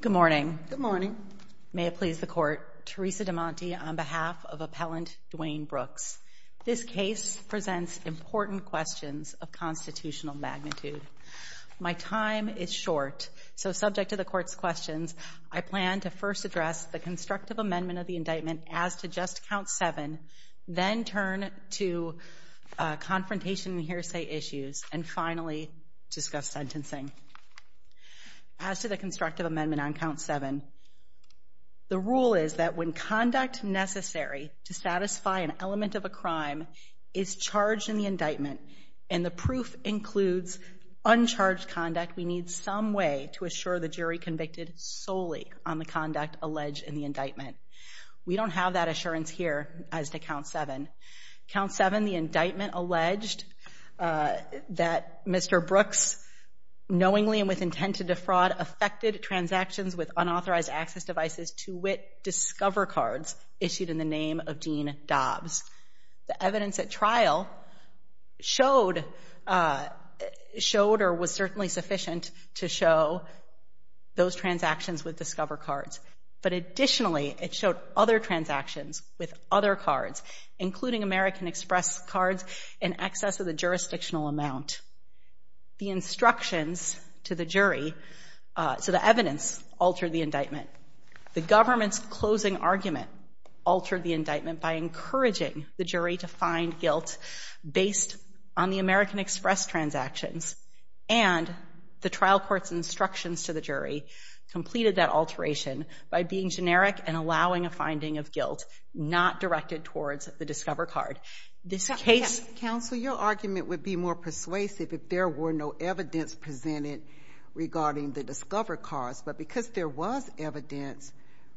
Good morning. Good morning. May it please the court, Teresa DeMonte on behalf of Appellant Dwayne Brooks. This case presents important questions of constitutional magnitude. My time is short, so subject to the court's questions, I plan to first address the constructive amendment of the indictment as to just count seven, then turn to confrontation and hearsay issues, and finally discuss sentencing. As to the constructive amendment on count seven, the rule is that when conduct necessary to satisfy an element of a crime is charged in the indictment, and the proof includes uncharged conduct, we need some way to assure the jury convicted solely on the conduct alleged in the indictment. We don't have that assurance here as to count seven. Count seven, the indictment alleged that Mr. Brooks knowingly and with intent to defraud affected transactions with unauthorized access devices to wit discover cards issued in the name of Dean Dobbs. The evidence at trial showed or was certainly sufficient to show those transactions with discover cards, but additionally, it showed other transactions with other cards, including American Express cards in excess of the jurisdictional amount. The instructions to the jury, so the evidence, altered the indictment. The government's closing argument altered the indictment by encouraging the jury to find guilt based on the American Express transactions, and the trial court's instructions to the jury completed that alteration by being generic and allowing a finding of guilt not directed towards the discover card. This case... Counsel, your argument would be more persuasive if there were no evidence presented regarding the discover cards, but because there was evidence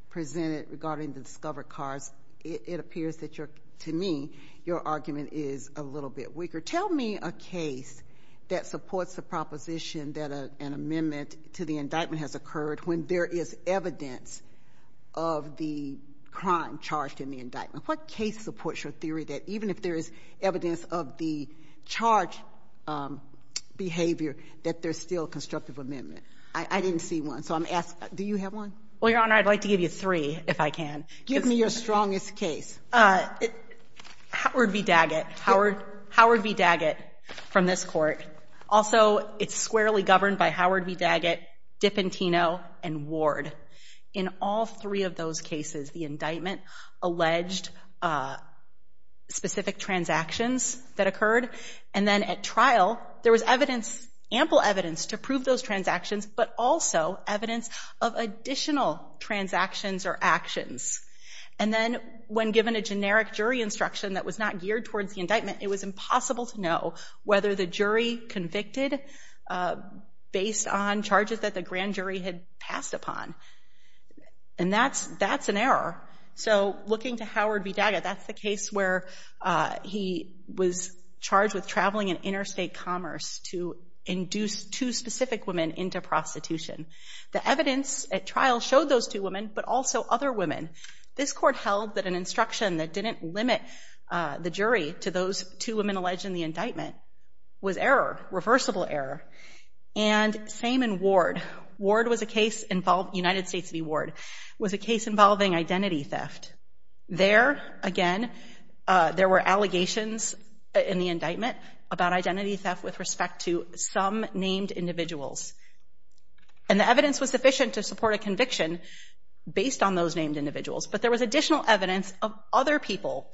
presented regarding the discover cards, it appears that to me, your argument is a little bit weaker. Tell me a case that supports the proposition that an amendment to the indictment has occurred when there is evidence of the crime charged in the indictment. What case supports your theory that even if there is evidence of the charge behavior, that there's still constructive amendment? I didn't see one, so I'm asking, do you have one? Well, Your Honor, I'd like to give you three, if I can. Give me your strongest case. Howard v. Daggett. Howard v. Daggett from this court. Also, it's squarely governed by Howard v. Daggett, Dipentino, and Ward. In all three of those cases, the indictment alleged specific transactions that occurred, and then at trial, there was evidence, ample evidence to prove those transactions, but also evidence of additional transactions or actions. And then when given a generic jury instruction that was not geared towards the indictment, it was impossible to know whether the jury convicted based on charges that the looking to Howard v. Daggett, that's the case where he was charged with traveling in interstate commerce to induce two specific women into prostitution. The evidence at trial showed those two women, but also other women. This court held that an instruction that didn't limit the jury to those two women alleged in the indictment was error, reversible error. And same in Ward. Ward was a case involving, United States v. Ward, was a case involving identity theft. There, again, there were allegations in the indictment about identity theft with respect to some named individuals. And the evidence was sufficient to support a conviction based on those named individuals, but there was additional evidence of other people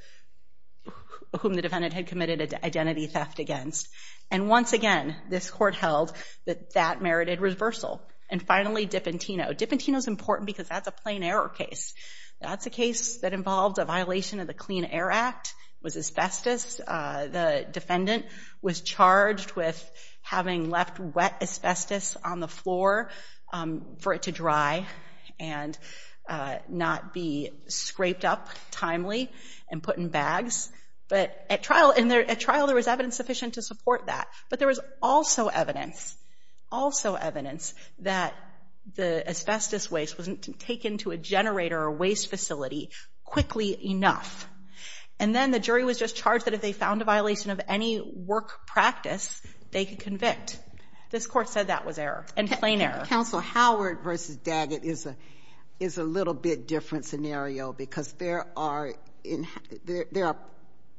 whom the defendant had committed identity theft against. And once again, this court held that that merited reversal. And finally, Dipentino. Dipentino's important because that's a plain error case. That's a case that involved a violation of the Clean Air Act. It was asbestos. The defendant was charged with having left wet asbestos on the floor for it to dry and not be scraped up timely and put in bags. But at trial, there was evidence sufficient to support that. But there was also evidence, also evidence, that the asbestos waste wasn't taken to a generator or waste facility quickly enough. And then the jury was just charged that if they found a violation of any work practice, they could convict. This court said that was error, and plain error. Counsel, Howard v. Daggett is a little bit different scenario because there are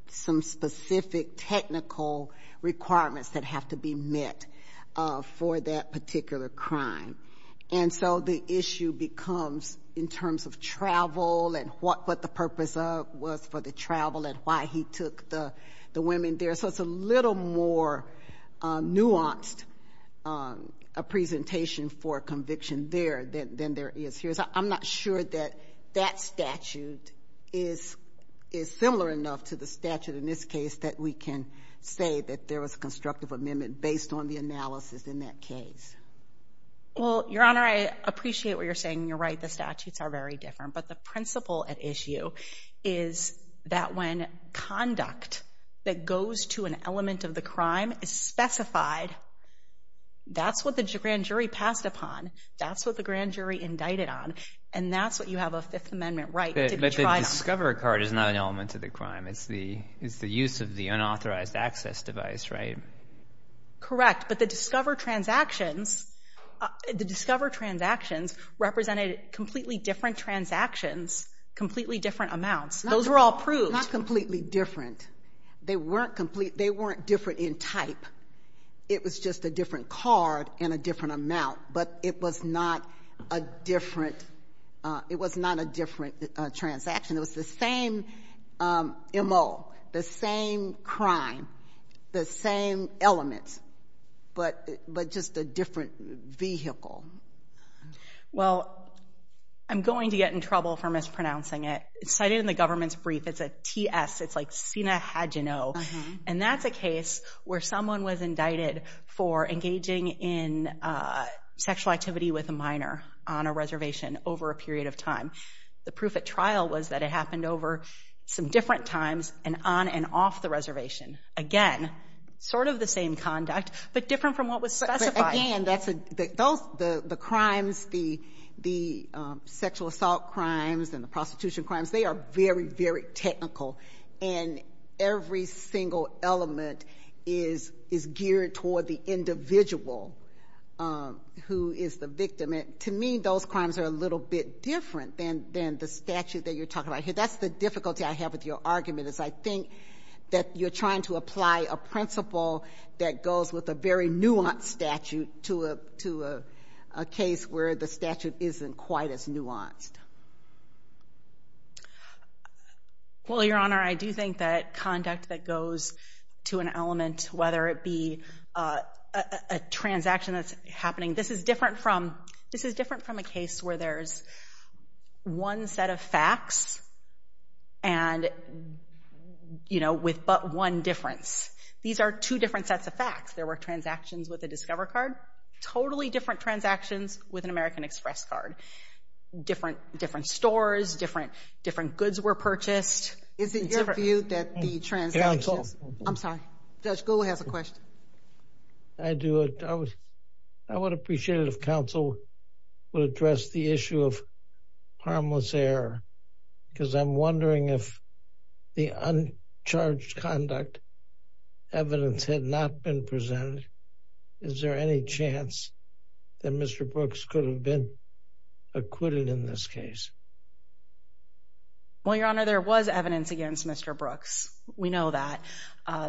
some specific technical requirements that have to be met for that particular crime. And so the issue becomes in terms of travel and what the purpose of was for the travel and why he took the women there. So it's a little more nuanced a presentation for conviction there than there is here. I'm not sure that that statute is similar enough to the statute in this case that we can say that there was a constructive amendment based on the analysis in that case. Well, Your Honor, I appreciate what you're saying. You're right. The statutes are very different. But the principle at issue is that when conduct that goes to an element of the crime is specified, that's what the grand jury passed upon. That's what the grand jury indicted on. And that's what you have a Fifth Amendment right to be tried on. But the Discover card is not an element of the crime. It's the use of the unauthorized access device, right? Correct. But the Discover transactions, the Discover transactions represented completely different transactions, completely different amounts. Those were all proved. Not completely different. They weren't complete. They weren't different in type. It was just a different card and a different amount. But it was not a different, it was not a different transaction. It was the same MO, the same crime, the same element, but just a different vehicle. Well, I'm going to get in trouble for mispronouncing it. It's cited in the government's brief. It's a TS. It's like Sina Hadjano. And that's a case where someone was indicted for engaging in sexual activity with a minor on a reservation over a period of time. The proof at trial was that it happened over some different times and on and off the reservation. Again, sort of the same conduct, but different from what was specified. But again, the crimes, the sexual assault crimes and the prostitution crimes, they are very, very technical. And every single element is geared toward the individual who is the victim. And to me, those crimes are a little bit different than the statute that you're talking about here. That's the difficulty I have with your argument, is I think that you're trying to apply a principle that goes with a very nuanced statute to a case where the statute isn't quite as nuanced. Well, Your Honor, I do think that conduct that goes to an element, whether it be a transaction that's happening, this is different from a case where there's one set of facts and, you know, with but one difference. These are two different sets of facts. There were transactions with a Discover card, totally different transactions with an American Express card. Different stores, different goods were purchased. Is it your view that the transactions... Get on the phone. I'm sorry. Judge Gould has a question. I do. I would appreciate it if counsel would address the issue of harmless error, because I'm wondering if the uncharged conduct evidence had not been presented. Is there any chance that Mr. Brooks could have been acquitted in this case? Well, Your Honor, there was evidence against Mr. Brooks. We know that.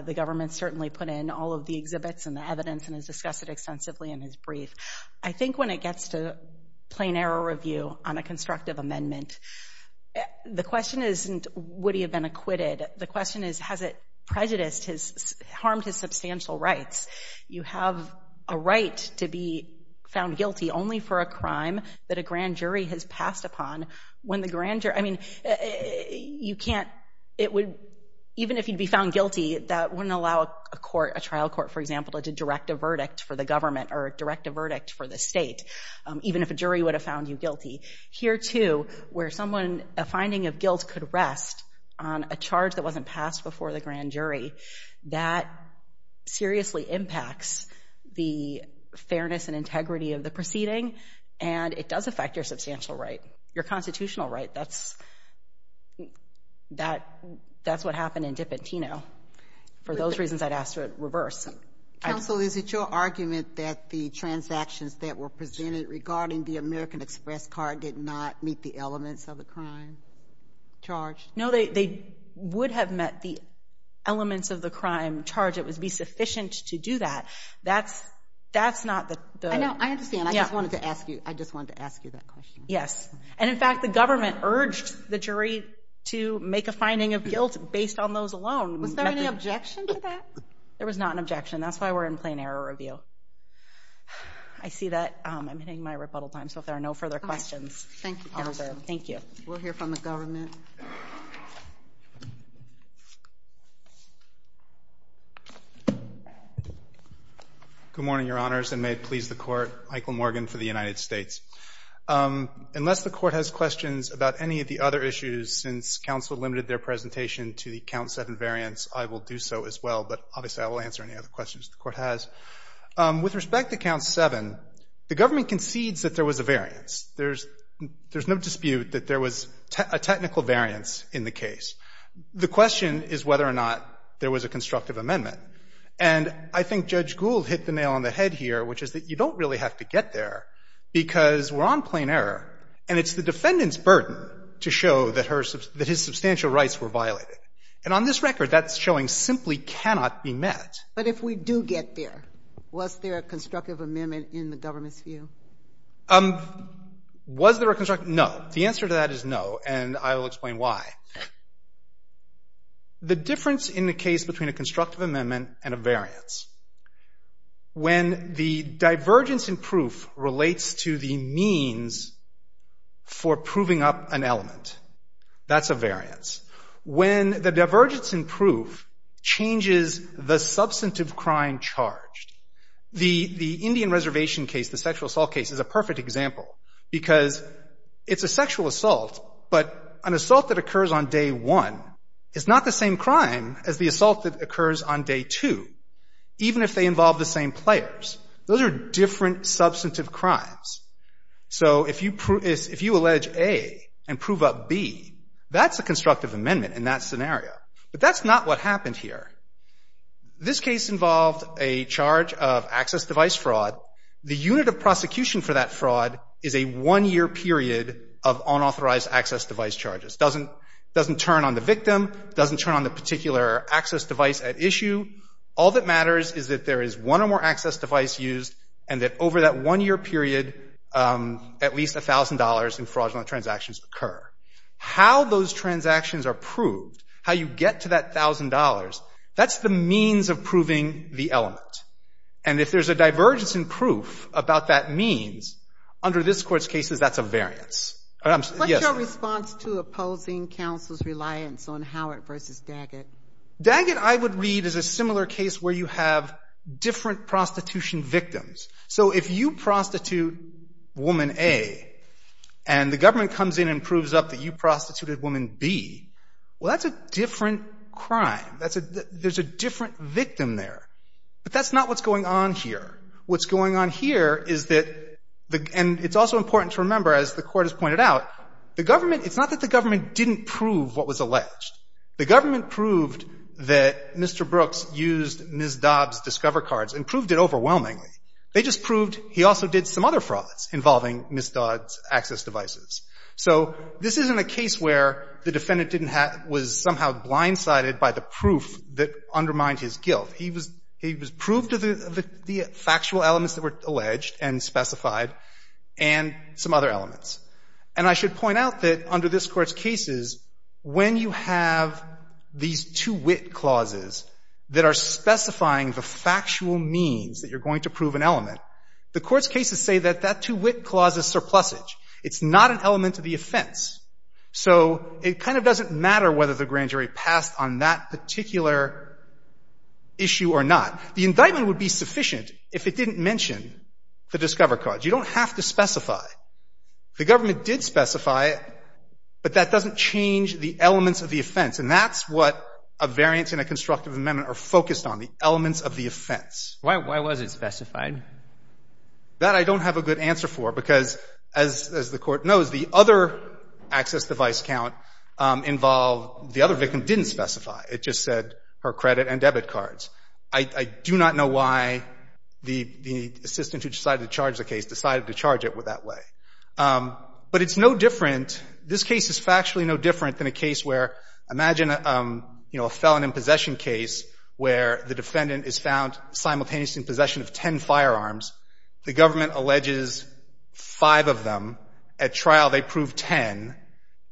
The government certainly put in all of the exhibits and the evidence and has discussed it extensively in his brief. I think when it gets to plain error review on a constructive amendment, the question isn't, would he have been acquitted? The question is, has it prejudiced his, harmed his substantial rights? You have a right to be found guilty only for a crime that a grand jury has passed upon. When the grand jury, I mean, you can't, it would, even if you'd be found guilty, that wouldn't allow a court, a trial court, for example, to direct a verdict for the government or direct a verdict for the state, even if a jury would have found you guilty. Here too, where someone, a finding of guilt could rest on a charge that wasn't passed before the grand jury, that seriously impacts the fairness and integrity of the proceeding, and it does affect your substantial right, your constitutional right. That's, that, that's what happened in Dipentino. For those reasons, I'd ask to reverse. Counsel, is it your argument that the transactions that were presented regarding the American Express card did not meet the elements of the crime charge? No, they, they would have met the elements of the crime charge. It would be sufficient to do that. That's, that's not the... I know, I understand. I just wanted to ask you, I just wanted to ask you that question. Yes. And in fact, the government urged the jury to make a finding of guilt based on those alone. Was there any objection to that? There was not an objection. That's why we're in plain error review. I see that I'm hitting my rebuttal time, so if there are no further questions. Thank you, counsel. Thank you. We'll hear from the government. Good morning, Your Honors, and may it please the Court, Michael Morgan for the United States. Unless the Court has questions about any of the other issues, since counsel limited their presentation to the Count 7 variance, I will do so as well, but obviously I will answer any other questions the Court has. With respect to Count 7, the government concedes that there was a variance. There's, there's no dispute that there was a technical variance in the case. The question is whether or not there was a constructive amendment. And I think Judge Gould hit the nail on the head here, which is that you don't really have to get there, because we're on plain error, and it's the defendant's financial rights were violated. And on this record, that's showing simply cannot be met. But if we do get there, was there a constructive amendment in the government's view? Was there a constructive? No. The answer to that is no, and I will explain why. The difference in the case between a constructive amendment and a variance, when the divergence in proof relates to the means for proving up an element, that's a variance. When the divergence in proof changes the substantive crime charged. The, the Indian Reservation case, the sexual assault case, is a perfect example, because it's a sexual assault, but an assault that occurs on day one is not the same crime as the assault that occurs on day two, even if they involve the same players. Those are different substantive crimes. So, if you prove, if you allege A and prove up B, that's a constructive amendment in that scenario. But that's not what happened here. This case involved a charge of access device fraud. The unit of prosecution for that fraud is a one-year period of unauthorized access device charges. Doesn't, doesn't turn on the victim, doesn't turn on the particular access device at issue. All that matters is that there is one or more access device used, and that over that one-year period, at least $1,000 in fraudulent transactions occur. How those transactions are proved, how you get to that $1,000, that's the means of proving the element. And if there's a divergence in proof about that means, under this Court's cases, that's a variance. Yes, ma'am. What's your response to opposing counsel's reliance on Howard v. Daggett? Daggett, I would read, is a similar case where you have different prostitution victims. So if you prostitute woman A, and the government comes in and proves up that you prostituted woman B, well, that's a different crime. That's a, there's a different victim there. But that's not what's going on here. What's going on here is that the, and it's also important to remember, as the Court has pointed out, the government, it's not that the government didn't prove what was alleged. The government proved that Mr. Brooks used Ms. Dobbs' Discover cards and proved it overwhelmingly. They just proved he also did some other frauds involving Ms. Dobbs' access devices. So this isn't a case where the defendant didn't have, was somehow blindsided by the proof that undermined his guilt. He was, he was proved to the, the factual elements that were alleged and specified and some other elements. And I should point out that under this Court's cases, when you have these two wit clauses that are specifying the factual means that you're going to prove an element, the Court's cases say that that two wit clause is surplusage. It's not an element of the offense. So it kind of doesn't matter whether the grand jury passed on that particular issue or not. The indictment would be sufficient if it didn't mention the Discover cards. You don't have to specify. The government did specify it, but that doesn't change the elements of the offense. And that's what a variance in a constructive amendment are focused on, the elements of the offense. Why, why was it specified? That I don't have a good answer for, because as, as the Court knows, the other access device count involved, the other victim didn't specify. It just said her credit and debit cards. I, I do not know why the, the assistant who decided to charge the case decided to charge it that way. But it's no different, this case is factually no different than a case where, imagine, you know, a felon in possession case where the defendant is found simultaneously in possession of ten firearms. The government alleges five of them. At trial, they prove ten,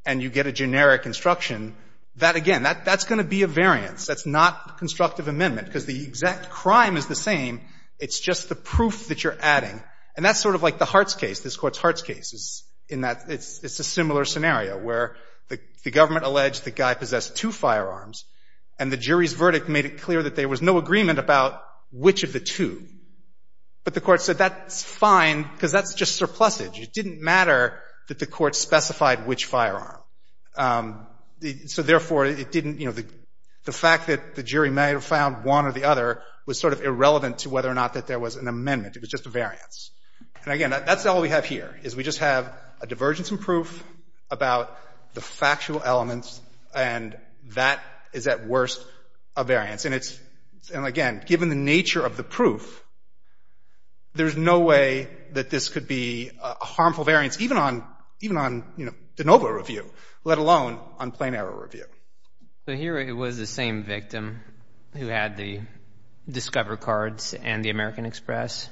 and you get a generic instruction. That, again, that, that's going to be a variance. That's not constructive amendment, because the exact crime is the same. It's just the proof that you're adding. And that's sort of like the Hartz case, this Court's Hartz case. It's, in that, it's, it's a similar scenario where the, the government alleged the guy possessed two firearms, and the jury's verdict made it clear that there was no agreement about which of the two. But the Court said that's fine, because that's just surplusage. It didn't matter that the Court specified which firearm. The, so therefore, it didn't, you know, the, the fact that the jury may have found one or the other was sort of irrelevant to whether or not that there was an amendment. It was just a variance. And again, that's all we have here, is we just have a divergence in proof about the factual elements, and that is at worst a variance. And it's, and again, given the nature of the proof, there's no way that this could be a harmful variance, even on, even on, you know, de novo review, let alone on plain error review. So here it was the same victim who had the Discover cards and the American Express?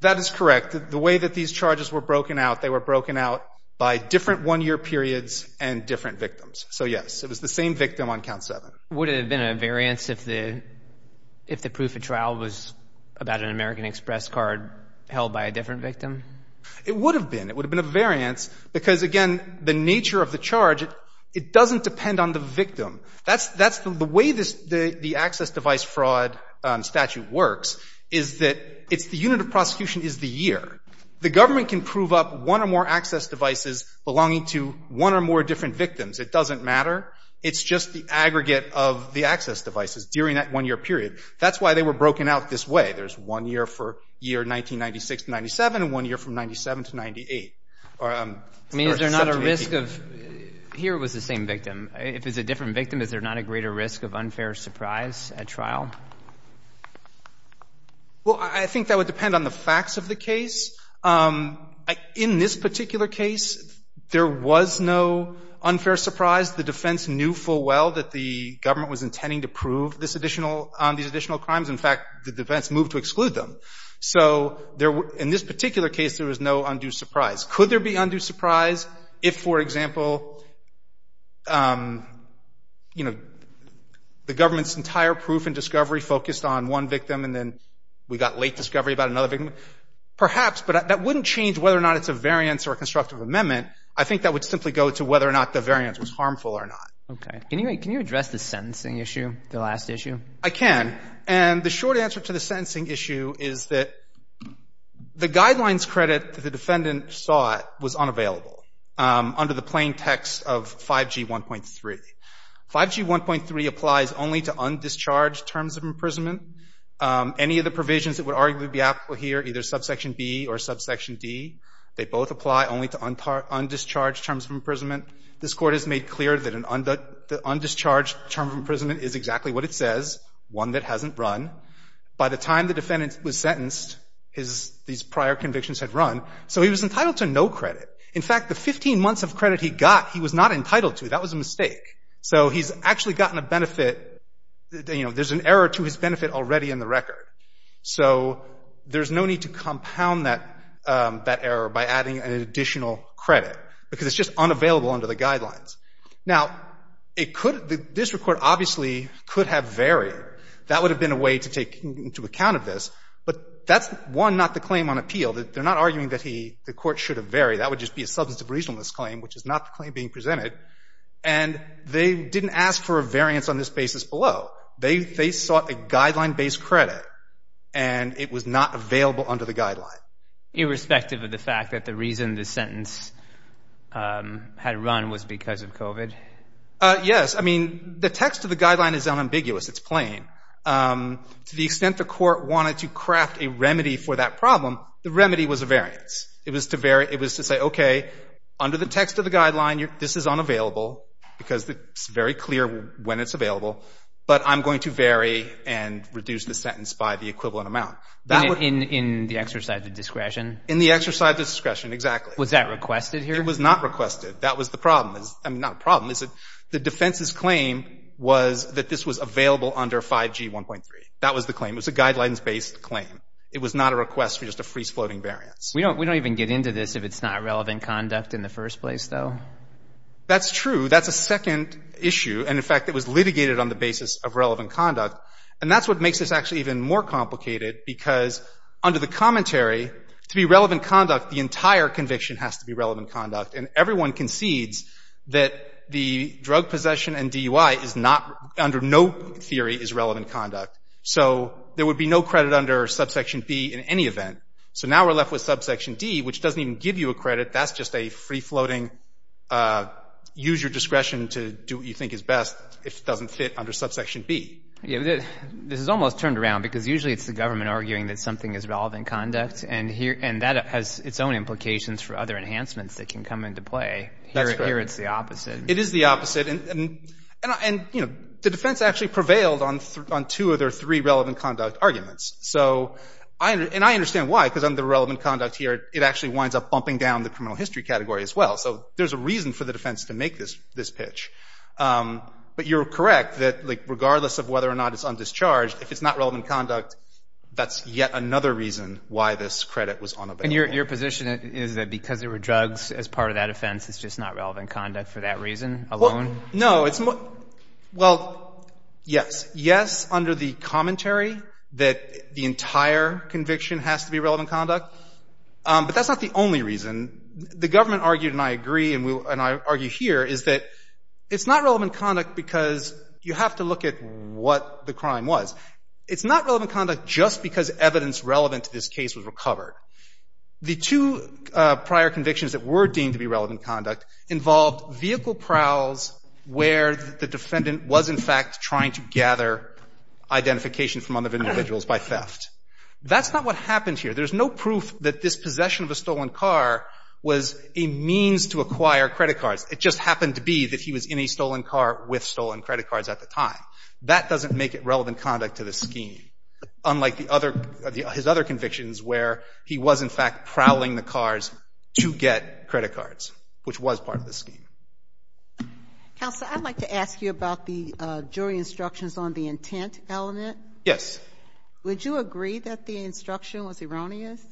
That is correct. The way that these charges were broken out, they were broken out by different one-year periods and different victims. So yes, it was the same victim on count seven. Would it have been a variance if the, if the proof of trial was about an American Express card held by a different victim? It would have been. It would have been a variance, because again, the nature of the charge, it, it doesn't depend on the victim. That's, that's the way this, the, the access device fraud statute works, is that it's, the unit of prosecution is the year. The government can prove up one or more access devices belonging to one or more different victims. It doesn't matter. It's just the aggregate of the access devices during that one-year period. That's why they were broken out this way. There's one year for year 1996 to 97 and one year from 97 to 98. I mean, is there not a risk of, here it was the same victim. If it's a different victim, is there not a greater risk of unfair surprise at trial? Well, I think that would depend on the facts of the case. In this particular case, there was no unfair surprise. The defense knew full well that the government was intending to prove this additional, these additional crimes. In fact, the defense moved to exclude them. So there were, in this particular case, there was no undue surprise. Could there be undue surprise if, for example, you know, the government's entire proof and discovery focused on one victim and then we got late discovery about another victim? Perhaps, but that wouldn't change whether or not it's a variance or a constructive amendment. I think that would simply go to whether or not the variance was harmful or not. Okay. Can you address the sentencing issue, the last issue? I can. And the short answer to the sentencing issue is that the guidelines credit that the defendant saw was unavailable under the plain text of 5G 1.3. 5G 1.3 applies only to undischarged terms of imprisonment. Any of the provisions that would arguably be applicable here, either subsection B or subsection D, they both apply only to undischarged terms of imprisonment. This Court has made clear that an undischarged term of imprisonment is exactly what it says, one that hasn't run. By the time the defendant was sentenced, his, these prior convictions had run. So he was entitled to no credit. In fact, the 15 months of credit he got, he was not entitled to. That was a mistake. So he's actually gotten a benefit. You know, there's an error to his benefit already in the record. So there's no need to compound that, that error by adding an additional credit because it's just unavailable under the guidelines. Now, it could, this Court obviously could have varied. That would have been a way to take into account of this. But that's, one, not the claim on appeal. They're not arguing that he, the Court should have varied. That would just be a substance of reasonableness claim, which is not the claim being presented. And they didn't ask for a variance on this basis below. They sought a guideline-based credit, and it was not available under the guideline. Irrespective of the fact that the reason the sentence had run was because of COVID? Yes. I mean, the text of the guideline is unambiguous. It's plain. To the extent the Court wanted to craft a remedy for that problem, the remedy was a variance. It was to say, okay, under the text of the guideline, this is unavailable because it's very clear when it's available, but I'm going to vary and reduce the sentence by the equivalent amount. In the exercise of discretion? In the exercise of discretion, exactly. Was that requested here? It was not requested. That was the problem. I mean, not a problem. The defense's claim was that this was available under 5G 1.3. That was the claim. It was a guidelines-based claim. It was not a request for just a freeze-floating variance. We don't even get into this if it's not relevant conduct in the first place, though. That's true. That's a second issue. And, in fact, it was litigated on the basis of relevant conduct. And that's what makes this actually even more complicated, because under the commentary, to be relevant conduct, the entire conviction has to be relevant conduct. And everyone concedes that the drug possession and DUI is not, under no theory, is relevant conduct. So there would be no credit under subsection B in any event. So now we're left with subsection D, which doesn't even give you a credit. That's just a free-floating, use your discretion to do what you think is best if it doesn't fit under subsection B. Yeah. This is almost turned around, because usually it's the government arguing that something is relevant conduct, and that has its own implications for other enhancements that can come into play. That's correct. Here it's the opposite. It is the opposite. And, you know, the defense actually prevailed on two of their three relevant conduct arguments. And I understand why, because under relevant conduct here, it actually winds up bumping down the criminal history category as well. So there's a reason for the defense to make this pitch. But you're correct that, like, regardless of whether or not it's undischarged, if it's not relevant conduct, that's yet another reason why this credit was unavailable. And your position is that because there were drugs as part of that offense, it's just not relevant conduct for that reason alone? No. Well, yes. Yes, under the commentary that the entire conviction has to be relevant conduct. But that's not the only reason. The government argued, and I agree, and I argue here, is that it's not relevant conduct because you have to look at what the crime was. It's not relevant conduct just because evidence relevant to this case was recovered. The two prior convictions that were deemed to be relevant conduct involved vehicle prowls where the defendant was, in fact, trying to gather identification from other individuals by theft. That's not what happened here. There's no proof that this possession of a stolen car was a means to acquire credit cards. It just happened to be that he was in a stolen car with stolen credit cards at the time. That doesn't make it relevant conduct to this scheme, unlike his other convictions where he was, in fact, prowling the cars to get credit cards, which was part of the scheme. Counsel, I'd like to ask you about the jury instructions on the intent element. Yes. Would you agree that the instruction was erroneous?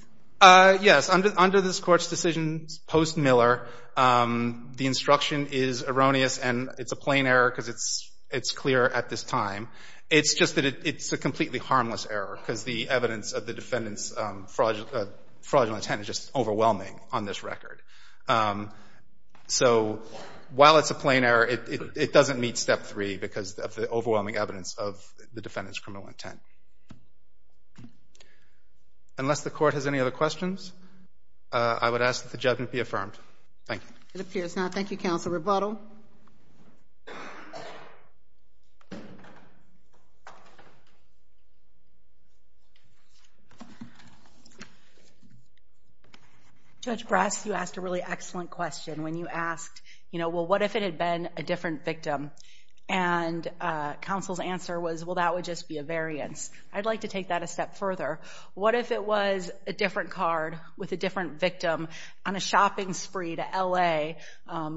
Yes. Under this Court's decision post-Miller, the instruction is erroneous, and it's a plain error because it's clear at this time. It's just that it's a completely harmless error because the evidence of the defendant's fraudulent intent is just overwhelming on this record. So while it's a plain error, it doesn't meet Step 3 because of the overwhelming evidence of the defendant's criminal intent. Unless the Court has any other questions, I would ask that the judgment be affirmed. Thank you. It appears not. Thank you, Counsel. Rebuttal. Rebuttal. Judge Brass, you asked a really excellent question when you asked, you know, well, what if it had been a different victim? And Counsel's answer was, well, that would just be a variance. I'd like to take that a step further. What if it was a different card with a different victim on a shopping spree to L.A.,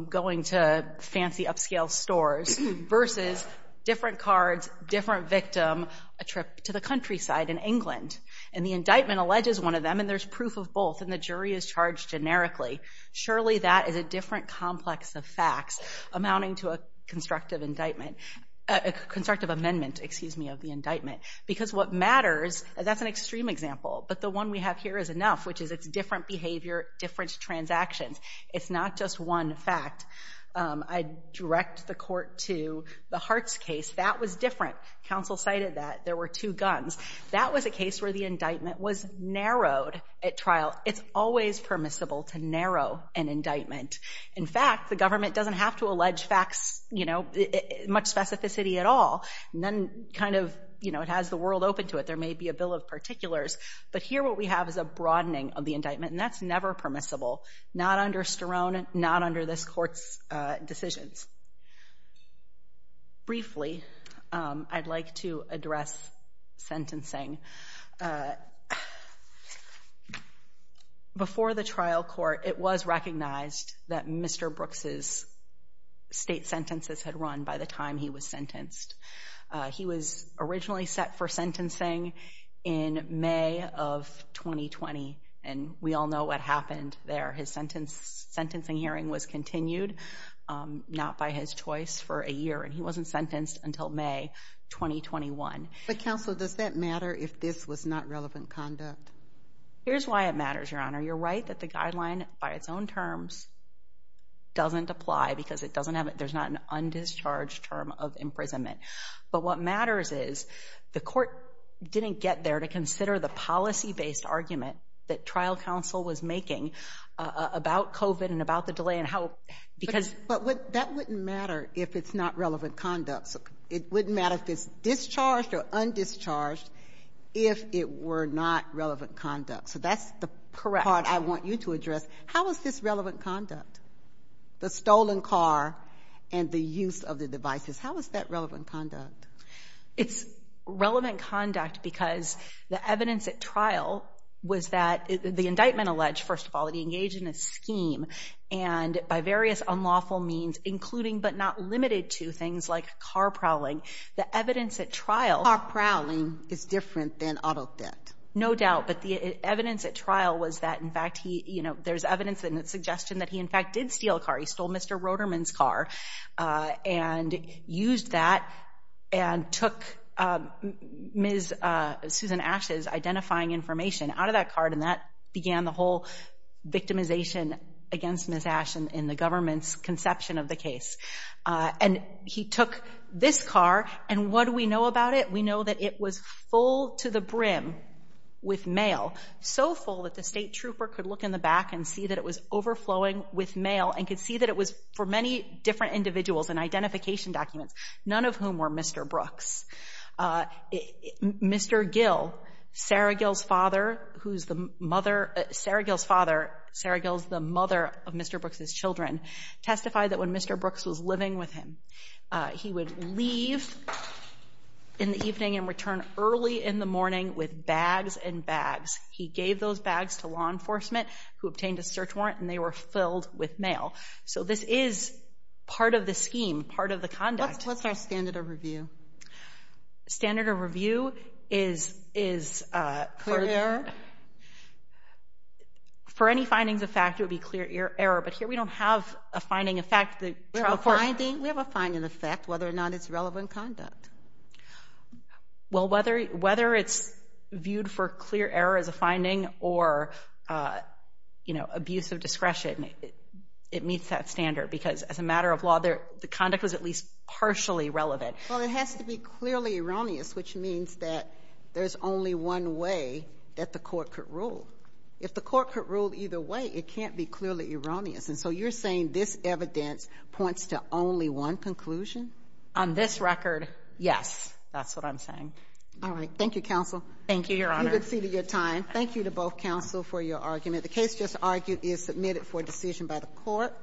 going to fancy upscale stores, versus different cards, different victim, a trip to the countryside in England? And the indictment alleges one of them, and there's proof of both, and the jury is charged generically. Surely that is a different complex of facts amounting to a constructive indictment, a constructive amendment, excuse me, of the indictment. Because what matters, that's an extreme example, but the one we have here is enough, which is it's different behavior, different transactions. It's not just one fact. I direct the court to the Hartz case. That was different. Counsel cited that. There were two guns. That was a case where the indictment was narrowed at trial. It's always permissible to narrow an indictment. In fact, the government doesn't have to allege facts, you know, much specificity at all. None kind of, you know, it has the world open to it. There may be a bill of particulars. But here what we have is a broadening of the indictment, and that's never permissible. Not under Sterone, not under this court's decisions. Briefly, I'd like to address sentencing. Before the trial court, it was recognized that Mr. Brooks' state sentences had run by the time he was sentenced. He was originally set for sentencing in May of 2020, and we all know what happened there. His sentencing hearing was continued, not by his choice, for a year, and he wasn't sentenced until May 2021. But, counsel, does that matter if this was not relevant conduct? Here's why it matters, Your Honor. You're right that the guideline by its own terms doesn't apply because it doesn't have it. There's not an undischarged term of imprisonment. But what matters is the court didn't get there to consider the policy-based argument that trial counsel was making about COVID and about the delay and how, because. But that wouldn't matter if it's not relevant conduct. It wouldn't matter if it's discharged or undischarged if it were not relevant conduct. So that's the part I want you to address. How is this relevant conduct, the stolen car and the use of the devices? How is that relevant conduct? It's relevant conduct because the evidence at trial was that the indictment alleged, first of all, that he engaged in a scheme, and by various unlawful means, including but not limited to things like car prowling, the evidence at trial. Car prowling is different than auto theft. No doubt. But the evidence at trial was that, in fact, there's evidence in the suggestion that he, in fact, did steal a car. He stole Mr. Roterman's car and used that and took Ms. Susan Ash's identifying information out of that card, and that began the whole victimization against Ms. Ash in the government's conception of the case. And he took this car. And what do we know about it? We know that it was full to the brim with mail, so full that the state trooper could look in the back and see that it was overflowing with mail and could see that it was for many different individuals and identification documents, none of whom were Mr. Brooks. Mr. Gill, Sarah Gill's father, Sarah Gill's the mother of Mr. Brooks' children, testified that when Mr. Brooks was living with him, he would leave in the evening and return early in the morning with bags and bags. He gave those bags to law enforcement, who obtained a search warrant, and they were filled with mail. So this is part of the scheme, part of the conduct. What's our standard of review? Standard of review is for any findings of fact, it would be clear error. But here we don't have a finding of fact. We have a finding of fact, whether or not it's relevant conduct. Well, whether it's viewed for clear error as a finding or, you know, abuse of discretion, it meets that standard because as a matter of law, the conduct was at least partially relevant. Well, it has to be clearly erroneous, which means that there's only one way that the court could rule. If the court could rule either way, it can't be clearly erroneous. And so you're saying this evidence points to only one conclusion? On this record, yes. That's what I'm saying. All right. Thank you, counsel. Thank you, Your Honor. You've exceeded your time. Thank you to both counsel for your argument. The case just argued is submitted for decision by the court.